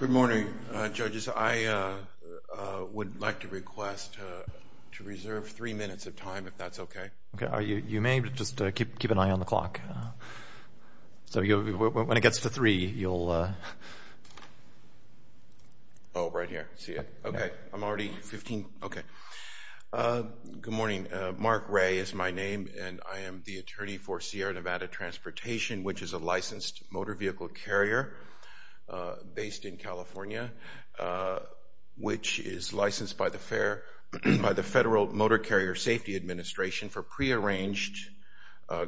Good morning, judges. I would like to request to reserve three minutes of time, if that's okay. Okay, you may just keep an eye on the clock. So when it gets to three, you'll... Oh, right here. See it? Okay. I'm already 15. Okay. Good morning. Mark Ray is my name, and I am the attorney for Sierra Nevada Transportation, which is a licensed motor vehicle carrier based in California, which is licensed by the Federal Motor Carrier Safety Administration for pre-arranged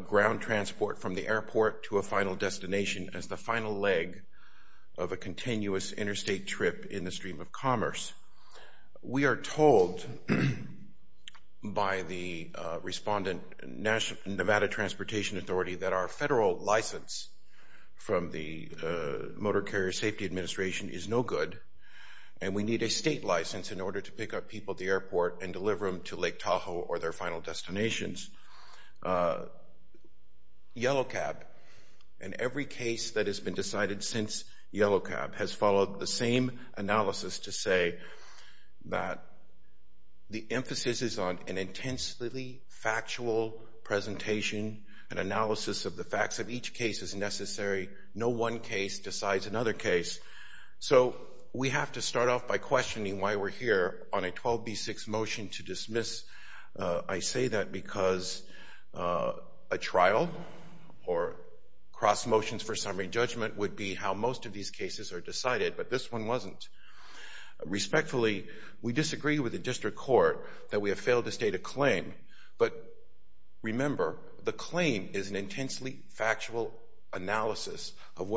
ground transport from the airport to a final destination as the final leg of a continuous interstate trip in the stream of commerce. We are told by the respondent, Nevada Transportation Authority, that our federal license from the Motor Carrier Safety Administration is no good, and we need a state license in order to pick up people at the airport and deliver them to Lake Tahoe or their final destinations. Yellow Cab, and every case that has been decided since Yellow Cab, has followed the same analysis to say that the emphasis is on an intensely factual presentation, an analysis of the facts of each case as necessary. No one case decides another case. So we have to start off by questioning why we're here on a 12B6 motion to dismiss. I say that because a trial or cross motions for summary judgment would be how most of these cases are decided, but this one wasn't. Respectfully, we disagree with the district court that we have failed to state a claim, but remember, the claim is an intensely factual analysis of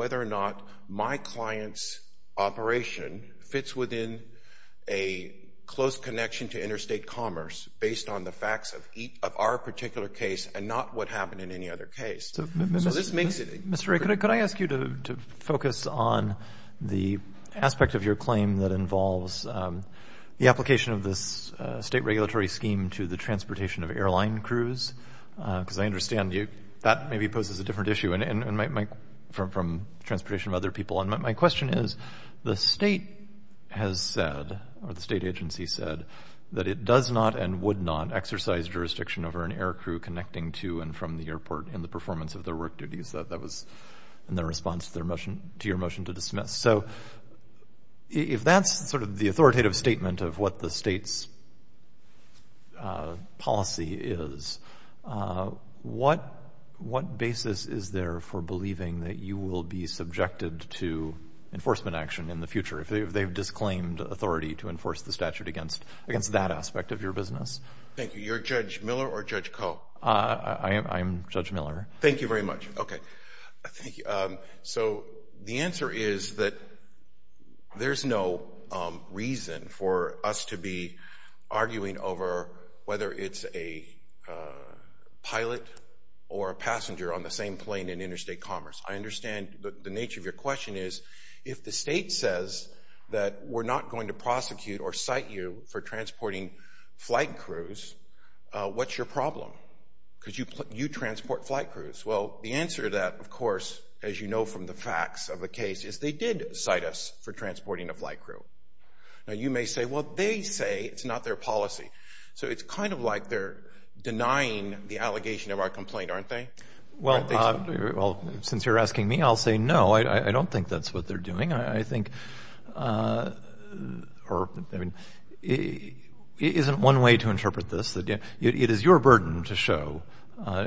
interstate commerce based on the facts of our particular case and not what happened in any other case. So this makes it a... Mr. Ray, could I ask you to focus on the aspect of your claim that involves the application of this state regulatory scheme to the transportation of airline crews? Because I understand that maybe poses a different issue from transportation of other people. And my question is, the state has said, or the state agency said, that it does not and would not exercise jurisdiction over an air crew connecting to and from the airport in the performance of their work duties. That was in their response to their motion, to your motion to dismiss. So if that's sort of the authoritative statement of what the state's policy is, what basis is there for believing that you will be subjected to enforcement action in the future if they've disclaimed authority to enforce the statute against that aspect of your business? Thank you. You're Judge Miller or Judge Koh? I am Judge Miller. Thank you very much. Okay. So the answer is that there's no reason for us to be arguing over whether it's a pilot or a passenger on the same plane in interstate commerce. I understand the nature of your question is, if the state says that we're not going to prosecute or cite you for transporting flight crews, what's your problem? Because you transport flight crews. Well, the answer to that, of course, as you know from the facts of the case, is they did cite us for transporting a flight crew. Now, you may say, well, they say it's not their policy. So it's kind of like they're denying the allegation of our complaint, aren't they? Well, since you're asking me, I'll say no, I don't think that's what they're doing. I think or I mean, it isn't one way to interpret this. It is your burden to show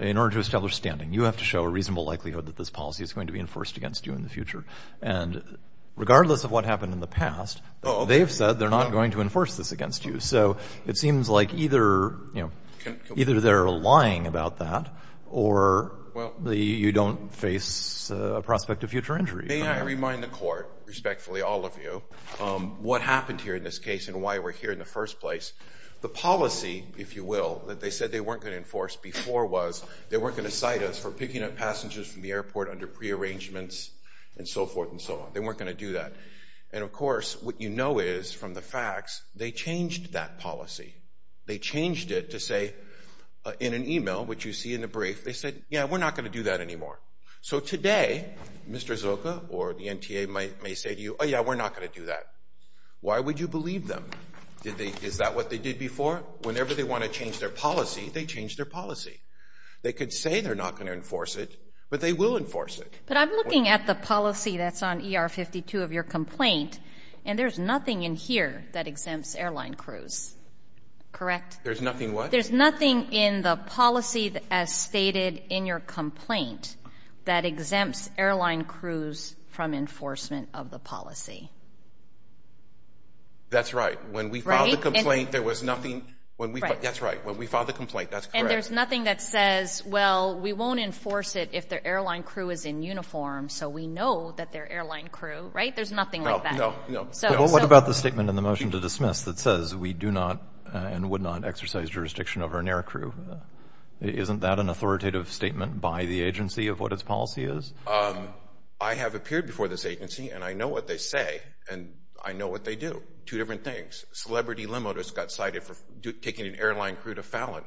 in order to establish standing. You have to show a reasonable likelihood that this policy is going to be enforced against you in the future. And regardless of what happened in the past, they've said they're not going to enforce this against you. So it seems like either, you know, either they're lying about that or you don't face a prospect of future injury. May I remind the court, respectfully, all of you, what happened here in this case and why we're here in the first place. The policy, if you will, that they said they weren't going to enforce before was they weren't going to cite us for picking up passengers from the airport under prearrangements and so forth and so on. They weren't going to do that. And of course, what you know is from the facts, they changed that policy. They changed it to say in an email, which you see in the brief, they said, yeah, we're not going to do that anymore. So today, Mr. Zilka or the NTA may say to you, oh, yeah, we're not going to do that. Why would you believe them? Is that what they did before? Whenever they want to change their policy, they change their policy. They could say they're not going to enforce it, but they will enforce it. But I'm looking at the policy that's on ER 52 of your complaint, and there's nothing in here that exempts airline crews, correct? There's nothing what? There's nothing in the policy as stated in your complaint that exempts airline crews from enforcement of the policy. That's right. When we filed the complaint, there was nothing. That's right. When we filed the complaint, that's correct. And there's nothing that says, well, we won't enforce it if the airline crew is in uniform. So we know that their airline crew, right? There's nothing like that. No, no, no. What about the statement in the motion to dismiss that says we do not and would not exercise jurisdiction over an air crew? Isn't that an authoritative statement by the agency of what its policy is? I have appeared before this agency, and I know what they say, and I know what they do. Two different things. Celebrity limo just got cited for taking an airline crew to Fallon.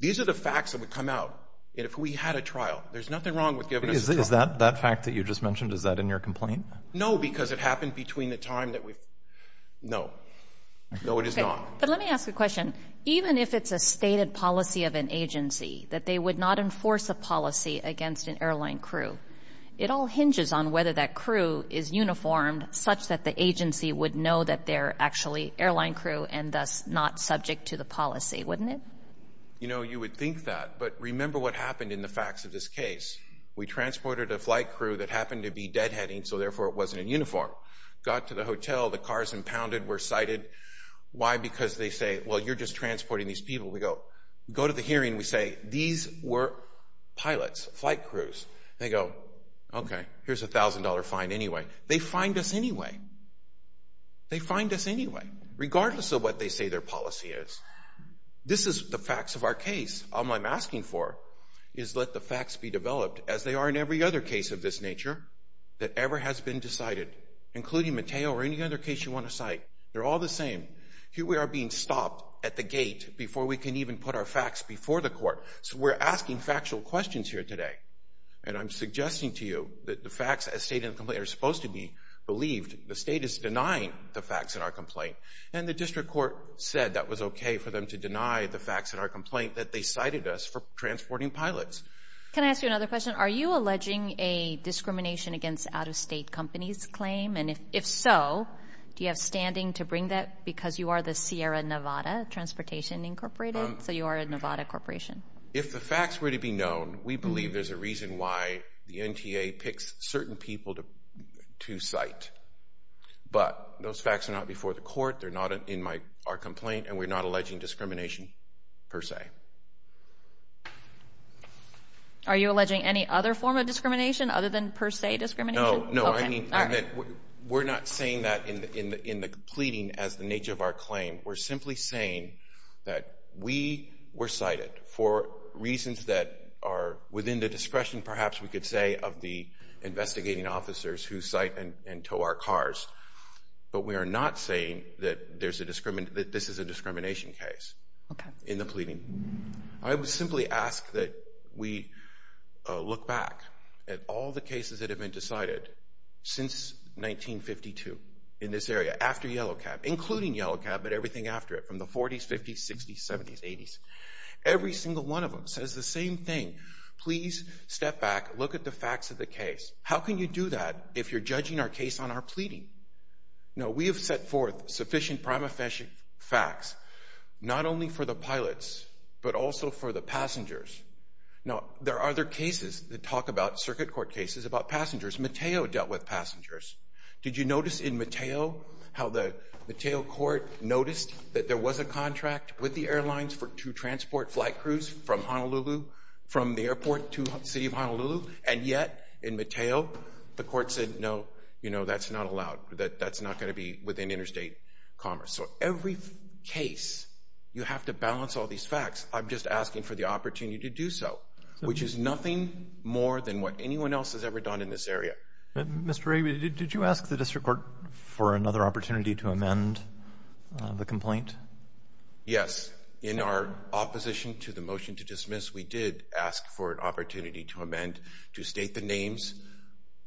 These are the facts that would come out. And if we had a trial, there's nothing wrong with giving us a trial. Is that fact that you just mentioned, is that in your complaint? No, because it happened between the time that we've. No, no, it is not. But let me ask you a question. Even if it's a stated policy of an agency that they would not enforce a policy against an airline crew, it all hinges on whether that crew is uniformed such that the agency would know that they're actually airline crew and thus not subject to the policy, wouldn't it? You know, you would think that. But remember what happened in the case. We transported a flight crew that happened to be deadheading, so therefore it wasn't in uniform. Got to the hotel, the cars impounded, were cited. Why? Because they say, well, you're just transporting these people. We go to the hearing, we say, these were pilots, flight crews. They go, okay, here's a $1,000 fine anyway. They fined us anyway. They fined us anyway, regardless of what they say their policy is. This is the facts of our case. All I'm asking for is let the facts be developed as they are in every other case of this nature that ever has been decided, including Mateo or any other case you want to cite. They're all the same. Here we are being stopped at the gate before we can even put our facts before the court. So we're asking factual questions here today. And I'm suggesting to you that the facts as stated in the complaint are supposed to be believed. The state is denying the facts in our complaint. And the district court said that was okay for them to deny the facts in our complaint that they cited us for transporting pilots. Can I ask you another question? Are you alleging a discrimination against out-of-state companies claim? And if so, do you have standing to bring that because you are the Sierra Nevada Transportation Incorporated? So you are a Nevada corporation. If the facts were to be known, we believe there's a reason why the NTA picks certain people to cite. But those facts are not before the court. They're not in our complaint, and we're not alleging discrimination per se. Are you alleging any other form of discrimination other than per se discrimination? No, no. I mean, we're not saying that in the pleading as the nature of our claim. We're simply saying that we were cited for reasons that are within the discretion, perhaps we could say, of the investigating officers who cite and tow our cars. But we are not saying that this is a discrimination case in the pleading. I would simply ask that we look back at all the cases that have been decided since 1952 in this area after Yellow Cab, including Yellow Cab, but everything after it from the 40s, 50s, 60s, 70s, 80s. Every single one of them says the same thing. Please step back, look at the facts of the Now, we have set forth sufficient prima facie facts, not only for the pilots, but also for the passengers. Now, there are other cases that talk about circuit court cases about passengers. Mateo dealt with passengers. Did you notice in Mateo how the Mateo court noticed that there was a contract with the airlines to transport flight crews from Honolulu, from the airport to the city of Honolulu, and yet in Mateo, the court said, no, you know, that's not allowed, that that's not going to be within interstate commerce. So every case, you have to balance all these facts. I'm just asking for the opportunity to do so, which is nothing more than what anyone else has ever done in this area. Mr. Ray, did you ask the district court for another opportunity to amend the complaint? Yes. In our opposition to the motion to dismiss, we did ask for an opportunity to amend to state the names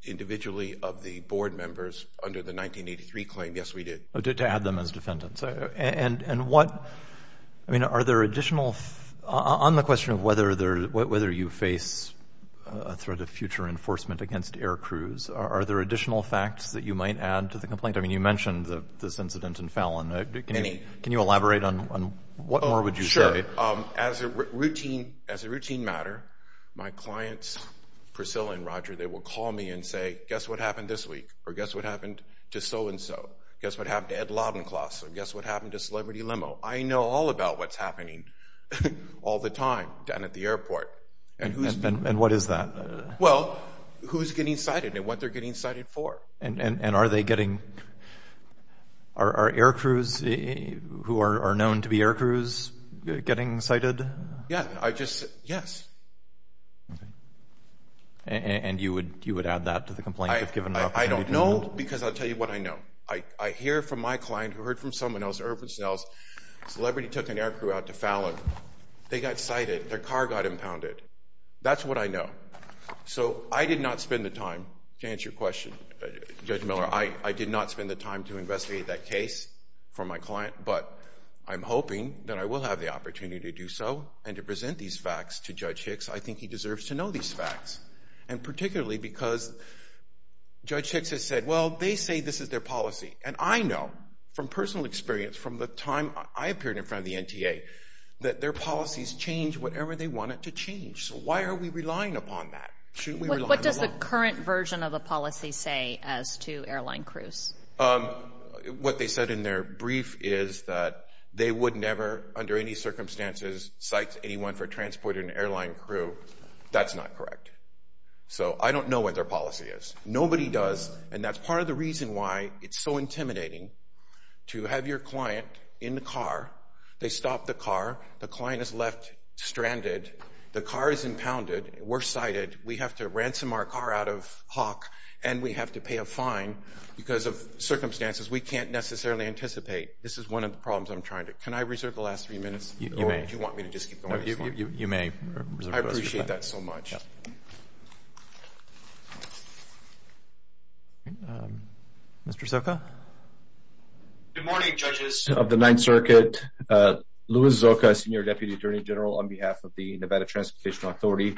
individually of the board members under the 1983 claim. Yes, we did. To add them as defendants. And what, I mean, are there additional, on the question of whether you face a threat of future enforcement against air crews, are there additional facts that you might add to the complaint? I mean, you mentioned this incident in Fallon. Can you elaborate on what more would you say? Sure. As a routine matter, my clients, Priscilla and Roger, they will call me and say, guess what happened this week? Or guess what happened to so-and-so? Guess what happened to Ed Lobbencloss? Or guess what happened to Celebrity Limo? I know all about what's happening all the time down at the airport. And what is that? Well, who's getting cited and what they're getting cited for. And are they getting, are air crews who are known to be air crews getting cited? Yeah, I just, yes. And you would add that to the complaint if given the opportunity to amend? I don't know because I'll tell you what I know. I hear from my client who heard from someone else, Irving Snell's, Celebrity took an air crew out to Fallon. They got cited. Their car got impounded. That's what I know. So I did not spend the time to answer your question, Judge Miller. I did not spend the time to investigate that case for my client, but I'm hoping that I will have the opportunity to do so and to present these facts to Judge Hicks. I think he deserves to know these facts. And particularly because Judge Hicks has said, well, they say this is their policy. And I know from personal experience, from the time I appeared in front of the NTA, that their policies change whatever they want it to change. So why are we relying upon that? Shouldn't we rely on the law? What does the current version of the policy say as to airline crews? What they said in their brief is that they would never, under any circumstances, cite anyone for transporting an airline crew. That's not correct. So I don't know what their policy is. Nobody does. And that's part of the reason why it's so intimidating to have your client in the car, the client is left stranded, the car is impounded, we're cited, we have to ransom our car out of Hawk, and we have to pay a fine because of circumstances we can't necessarily anticipate. This is one of the problems I'm trying to... Can I reserve the last three minutes? You may. Or do you want me to just keep going? No, you may. I appreciate that so much. Mr. Soka? Good morning, judges of the Ninth Circuit. Luis Soka, Senior Deputy Attorney General on behalf of the Nevada Transportation Authority.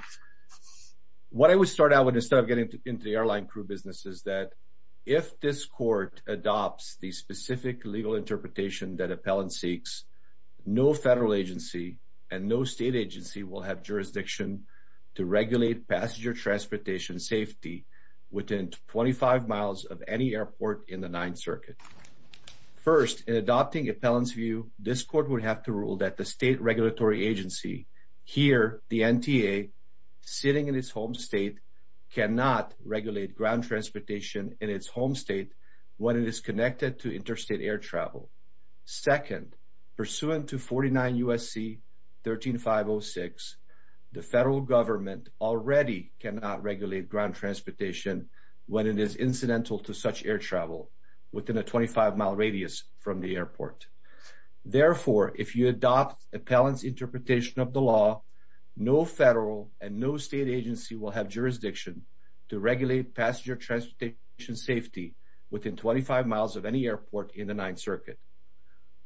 What I would start out with instead of getting into the airline crew business is that if this court adopts the specific legal interpretation that appellant seeks, no federal agency and no state agency will have jurisdiction to regulate passenger transportation safety within 25 miles of any airport in the Ninth Circuit. First, in adopting appellant's view, this court would have to rule that the state regulatory agency, here, the NTA, sitting in its home state, cannot regulate ground transportation in its home state when it is connected to interstate air travel. Second, pursuant to 49 U.S.C. 13506, the federal government already cannot regulate ground transportation when it is incidental to such air travel within a 25-mile radius from the airport. Therefore, if you adopt appellant's interpretation of the law, no federal and no state agency will have jurisdiction to regulate passenger transportation safety within 25 miles of any airport in the Ninth Circuit.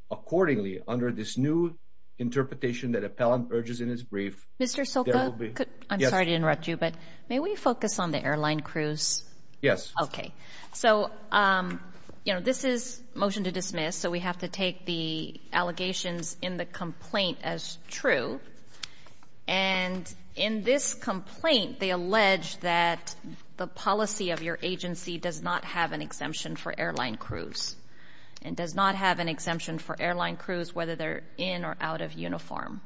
Accordingly, under this new interpretation that appellant urges in his brief, there will be... Mr. Soka, I'm sorry to interrupt you, but may we focus on the airline crews? Yes. Okay. So, you know, this is motion to dismiss, so we have to take the allegations in the complaint as true. And in this complaint, they allege that the policy of your agency does not have an exemption for airline crews. It does not have an exemption for airline crews, whether they're in or out of uniform.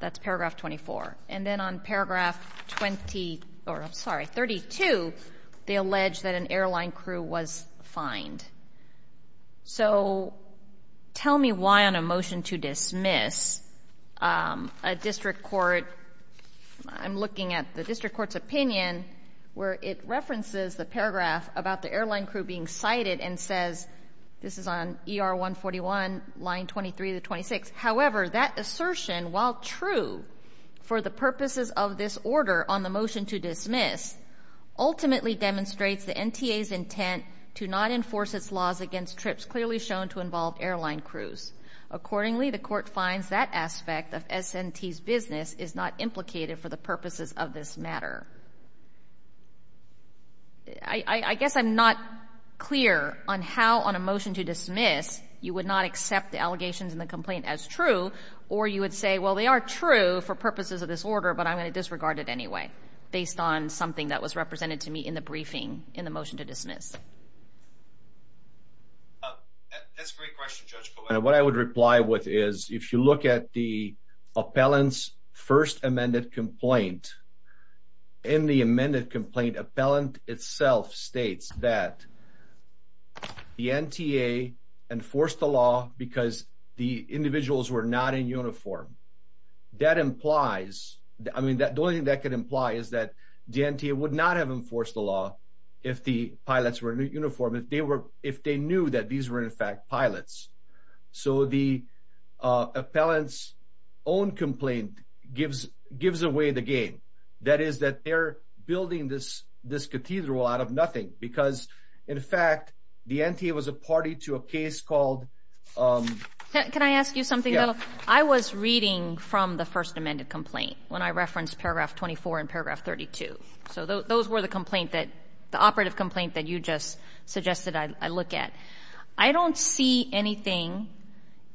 That's paragraph 24. And then on paragraph 20, or I'm sorry, 32, they allege that an airline crew was fined. So tell me why on a motion to dismiss, a district court, I'm looking at the district court's opinion where it references the paragraph about the airline crew being cited and says, this is on ER 141, line 23 to 26. However, that assertion, while true for the purposes of this order on the motion to dismiss, ultimately demonstrates the NTA's intent to not enforce its laws against trips clearly shown to involve airline crews. Accordingly, the court finds that aspect of S&T's business is not implicated for the purposes of this matter. I guess I'm not clear on how on a motion to dismiss, you would not accept the allegations in the complaint as true, or you would say, well, they are true for purposes of this order, but I'm going to disregard it anyway, based on something that was represented to me in the briefing in the motion to dismiss. That's a great question, Judge Kovacs. What I would reply with is, if you look at the appellant's first amended complaint, in the amended complaint, appellant itself states that the NTA enforced the law because the individuals were not in uniform. That implies, I mean, the only thing that could imply is that the NTA would not have enforced the law if the pilots were in uniform, if they knew that these were, in fact, pilots. So the appellant's own complaint gives away the game. That is that they're building this cathedral out of nothing, because, in fact, the NTA was a party to a case called... Can I ask you something, though? I was reading from the first amended complaint when I referenced paragraph 24 and paragraph 32. So those were the complaint that, the operative complaint that you just suggested I look at. I don't see anything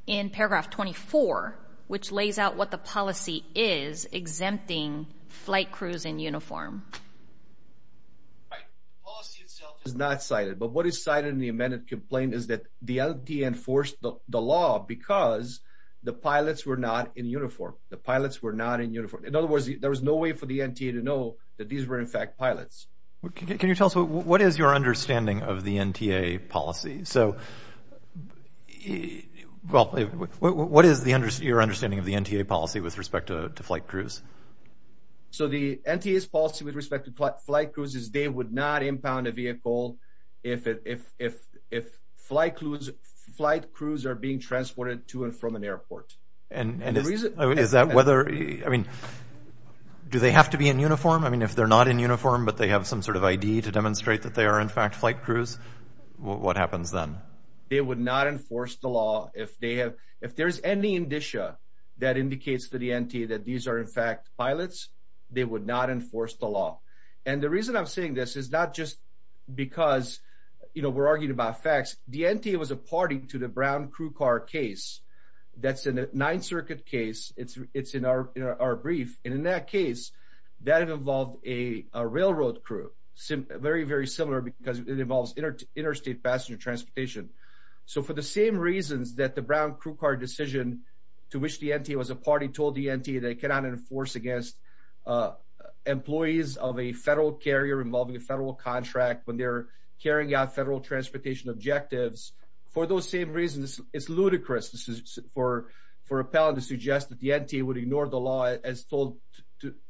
in paragraph 24 which lays out what the policy is exempting flight crews in uniform. Right. Policy itself is not cited. But what is cited in the amended complaint is that the NTA enforced the law because the pilots were not in uniform. The pilots were not in uniform. In other words, there was no way for the NTA to know that these were, in fact, pilots. Can you tell us what is your understanding of the NTA policy? So what is your understanding of the NTA policy with respect to flight crews? So the NTA's policy with respect to flight crews is they would not impound a vehicle if flight crews are being transported to and from an airport. And is that whether, I mean, do they have to be in uniform? If they're not in uniform, but they have some sort of ID to demonstrate that they are, in fact, flight crews, what happens then? They would not enforce the law if they have, if there's any indicia that indicates to the NTA that these are, in fact, pilots, they would not enforce the law. And the reason I'm saying this is not just because we're arguing about facts. The NTA was a party to the Brown crew car case. That's a Ninth Circuit case. It's in our brief. And in that case, that involved a railroad crew. Very, very similar because it involves interstate passenger transportation. So for the same reasons that the Brown crew car decision to which the NTA was a party told the NTA they cannot enforce against employees of a federal carrier involving a federal contract when they're carrying out federal transportation objectives. For those same reasons, it's ludicrous for a pilot to suggest that the NTA would ignore the law as told,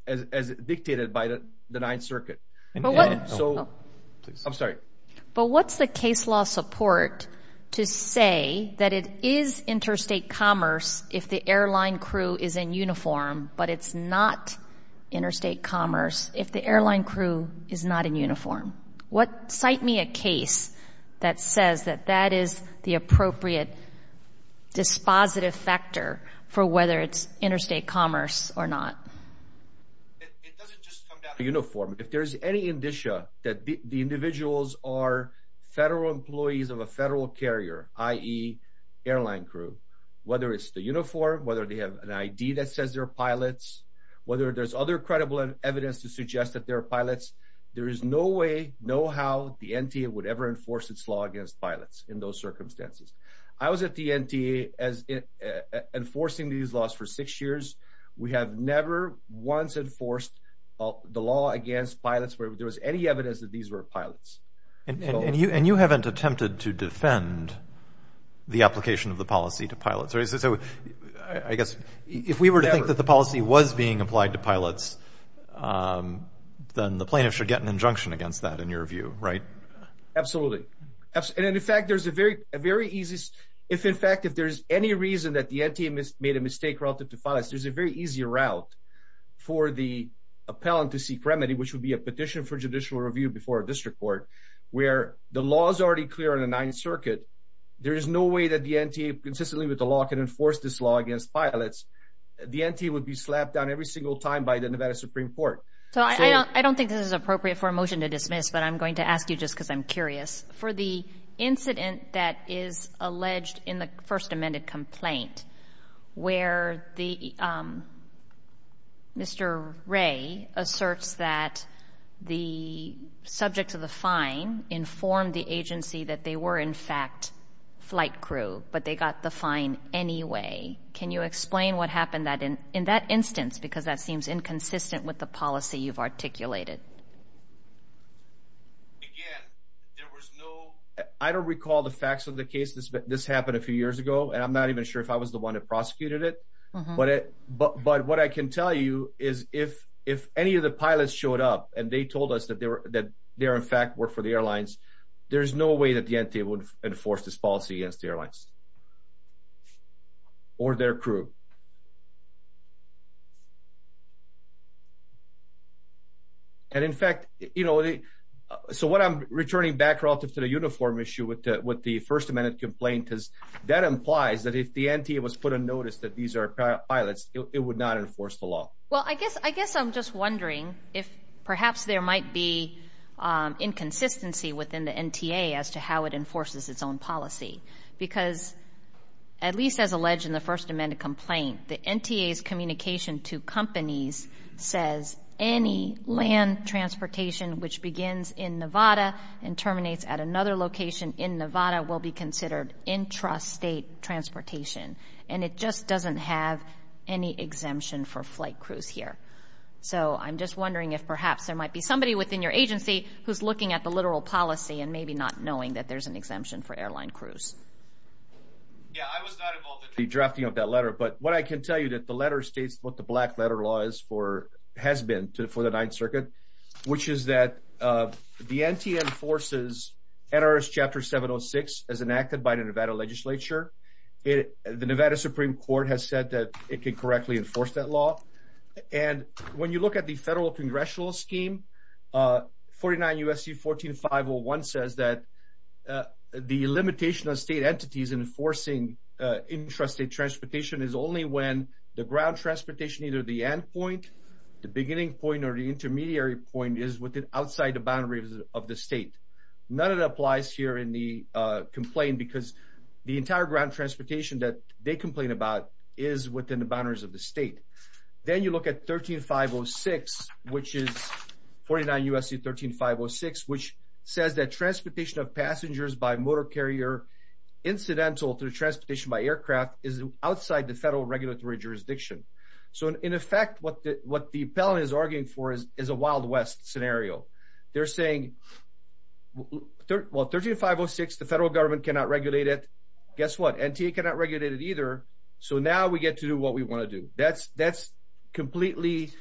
as dictated by the Ninth Circuit. I'm sorry. But what's the case law support to say that it is interstate commerce if the airline crew is in uniform, but it's not interstate commerce if the airline crew is not in uniform? What, cite me a case that says that that is the appropriate dispositive factor for whether it's interstate commerce or not? It doesn't just come down to uniform. If there's any indicia that the individuals are federal employees of a federal carrier, i.e., airline crew, whether it's the uniform, whether they have an ID that says they're pilots, whether there's other credible evidence to suggest that they're pilots, there is no way, no how the NTA would ever enforce its law against pilots in those circumstances. I was at the NTA enforcing these laws for six years. We have never once enforced the law against pilots where there was any evidence that these were pilots. And you haven't attempted to defend the application of the policy to pilots, right? So I guess if we were to think that the policy was being applied to pilots, then the plaintiff should get an injunction against that, in your view, right? Absolutely. And in fact, if there's any reason that the NTA made a mistake relative to pilots, there's a very easy route for the appellant to seek remedy, which would be a petition for judicial review before a district court, where the law is already clear in the Ninth Circuit. There is no way that the NTA, consistently with the law, can enforce this law against pilots. The NTA would be slapped down every single time by the Nevada Supreme Court. So I don't think this is appropriate for a motion to dismiss, but I'm going to ask you just because I'm curious, for the incident that is alleged in the first amended complaint where Mr. Ray asserts that the subject of the fine informed the agency that they were in fact flight crew, but they got the fine anyway. Can you explain what happened in that instance? Because that seems inconsistent with the policy you've articulated. Again, there was no, I don't recall the facts of the case. This happened a few years ago, and I'm not even sure if I was the one that prosecuted it, but what I can tell you is if any of the pilots showed up and they told us that they were in fact work for the airlines, there's no way that the NTA would enforce this policy against the airlines or their crew. And in fact, you know, so what I'm returning back relative to the uniform issue with the first amended complaint is that implies that if the NTA was put on notice that these are pilots, it would not enforce the law. Well, I guess I'm just wondering if perhaps there might be inconsistency within the NTA as to how it enforces its own policy, because at least as alleged in the first amended complaint, the NTA's communication to companies says any land transportation which begins in Nevada and terminates at another location in Nevada will be considered intrastate transportation, and it just doesn't have any exemption for flight crews here. So I'm just wondering if perhaps there might be somebody within your agency who's looking at the literal policy and maybe not knowing that there's an exemption for airline crews. Yeah, I was not involved in the drafting of that letter. But what I can tell you that the letter states what the black letter law is for, has been for the Ninth Circuit, which is that the NTA enforces NRS Chapter 706 as enacted by the Nevada legislature. The Nevada Supreme Court has said that it can correctly enforce that law. And when you look at the federal congressional scheme, 49 U.S.C. 14501 says that the limitation of state entities enforcing intrastate transportation is only when the ground transportation, either the end point, the beginning point, or the intermediary point is within outside the boundaries of the state. None of that applies here in the complaint, because the entire ground transportation that they complain about is within the boundaries of the state. Then you look at 13506, which is 49 U.S.C. 13506, which says that transportation of passengers by motor carrier incidental to transportation by aircraft is outside the federal regulatory jurisdiction. So in effect, what the appellant is arguing for is a Wild West scenario. They're saying, well, 13506, the federal government cannot regulate it. Guess what? NTA cannot regulate it either. So now we get to do what we want to do. That's completely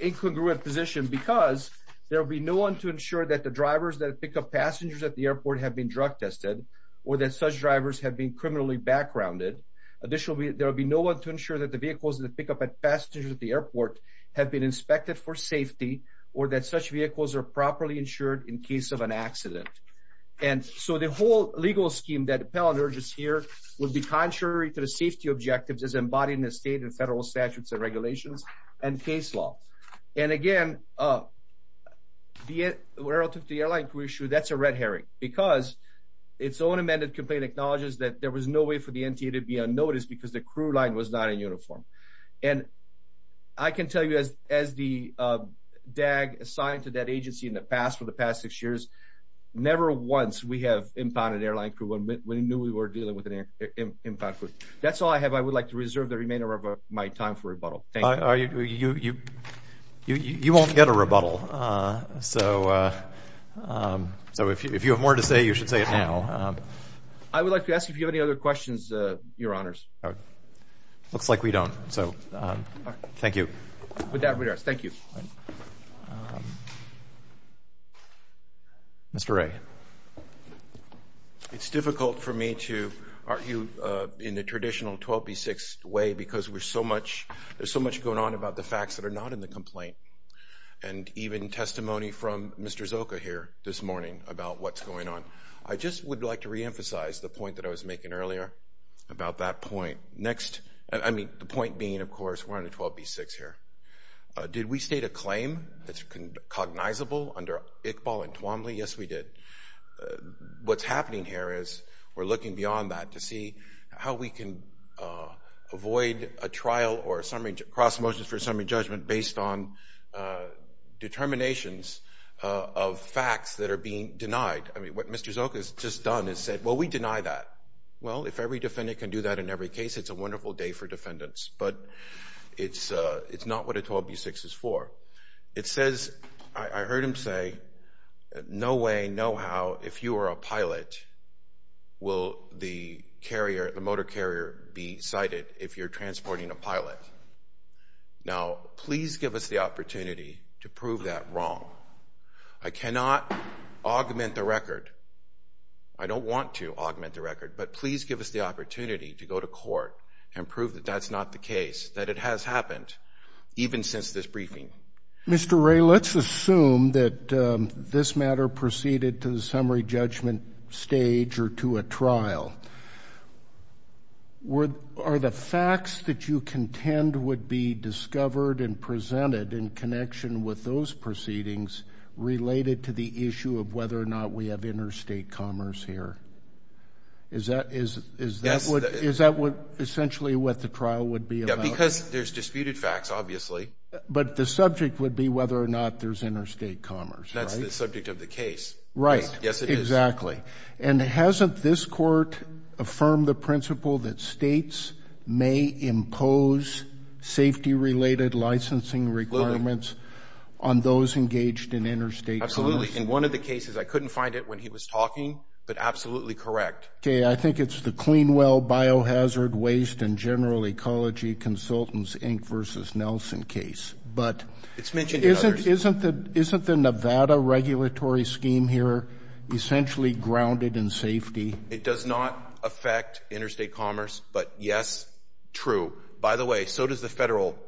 incongruent position, because there will be no one to ensure that the drivers that pick up passengers at the airport have been drug tested or that such drivers have been criminally backgrounded. Additionally, there will be no one to ensure that the vehicles that pick up passengers at the airport have been inspected for safety or that such vehicles are properly insured in case of an accident. And so the whole legal scheme that the appellant urges here would be contrary to the safety objectives as embodied in the state and federal statutes and regulations and case law. And again, relative to the airline crew issue, that's a red herring, because its own amended complaint acknowledges that there was no way for the NTA to be unnoticed because the crew line was not in uniform. And I can tell you, as the DAG assigned to that agency in the past for the past six years, never once we have impounded an airline crew when we knew we were dealing with an impound crew. That's all I have. I would like to reserve the remainder of my time for rebuttal. Thank you. You won't get a rebuttal. So if you have more to say, you should say it now. I would like to ask if you have any other questions, Your Honors. Looks like we don't. So thank you. With that, we are. Thank you. Mr. Wray. It's difficult for me to argue in the traditional 12B6 way because there's so much going on about the facts that are not in the complaint and even testimony from Mr. Zoka here this morning about what's going on. I just would like to reemphasize the point that I was making earlier about that point. Next, I mean, the point being, of course, we're on a 12B6 here. Did we state a claim that's cognizable under Iqbal and Twombly? Yes, we did. What's happening here is we're looking beyond that to see how we can avoid a trial or summary cross motions for summary judgment based on determinations of facts that are being denied. I mean, what Mr. Zoka has just done is said, well, we deny that. Well, if every defendant can do that in every case, it's a wonderful day for defendants. But it's not what a 12B6 is for. It says, I heard him say, no way, no how, if you are a pilot, will the carrier, the Now, please give us the opportunity to prove that wrong. I cannot augment the record. I don't want to augment the record. But please give us the opportunity to go to court and prove that that's not the case, that it has happened even since this briefing. Mr. Ray, let's assume that this matter proceeded to the summary judgment stage or to a trial. Are the facts that you contend would be discovered and presented in connection with those proceedings related to the issue of whether or not we have interstate commerce here? Is that what essentially what the trial would be about? Yeah, because there's disputed facts, obviously. But the subject would be whether or not there's interstate commerce, right? That's the subject of the case. Right. Yes, it is. Exactly. And hasn't this court affirmed the principle that states may impose safety-related licensing requirements on those engaged in interstate commerce? Absolutely. In one of the cases, I couldn't find it when he was talking, but absolutely correct. Okay. I think it's the Clean Well Biohazard Waste and General Ecology Consultants, Inc. v. Nelson case. But isn't the Nevada regulatory scheme here essentially grounded in safety? It does not affect interstate commerce. But yes, true. By the way, so does the Federal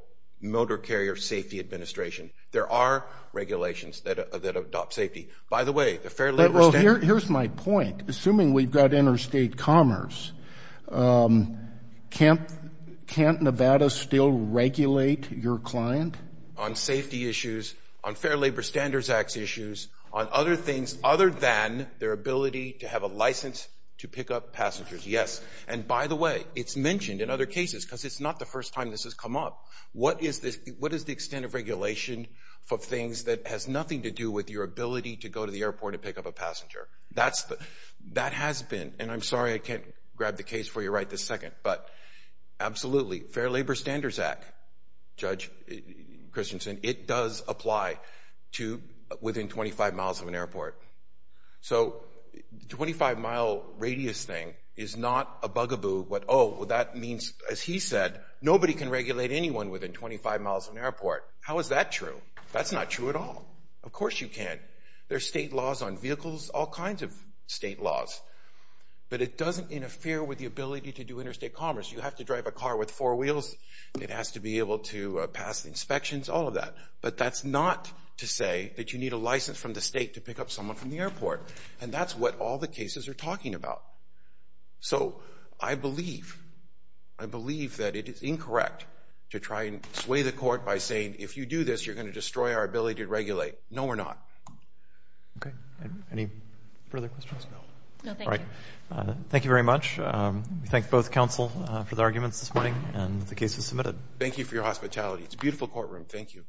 Motor Carrier Safety Administration. There are regulations that adopt safety. By the way, the Fair Labor Standards Act— Here's my point. Assuming we've got interstate commerce, can't Nevada still regulate your client? On safety issues, on Fair Labor Standards Act issues, on other things other than their ability to have a license to pick up passengers, yes. And by the way, it's mentioned in other cases because it's not the first time this has come up. What is the extent of regulation for things that has nothing to do with your ability to go to the airport and pick up a passenger? That has been—and I'm sorry I can't grab the case for you right this second, but absolutely. Fair Labor Standards Act, Judge Christensen, it does apply to within 25 miles of an airport. So the 25-mile radius thing is not a bugaboo. Oh, well, that means, as he said, nobody can regulate anyone within 25 miles of an airport. How is that true? That's not true at all. Of course you can. There are state laws on vehicles, all kinds of state laws. But it doesn't interfere with the ability to do interstate commerce. You have to drive a car with four wheels. It has to be able to pass inspections, all of that. But that's not to say that you need a license from the state to pick up someone from the airport. And that's what all the cases are talking about. So I believe, I believe that it is incorrect to try and sway the court by saying, if you do this, you're going to destroy our ability to regulate. No, we're not. Okay. Any further questions? No. No, thank you. Thank you very much. We thank both counsel for the arguments this morning and the case was submitted. Thank you for your hospitality. It's a beautiful courtroom. Thank you.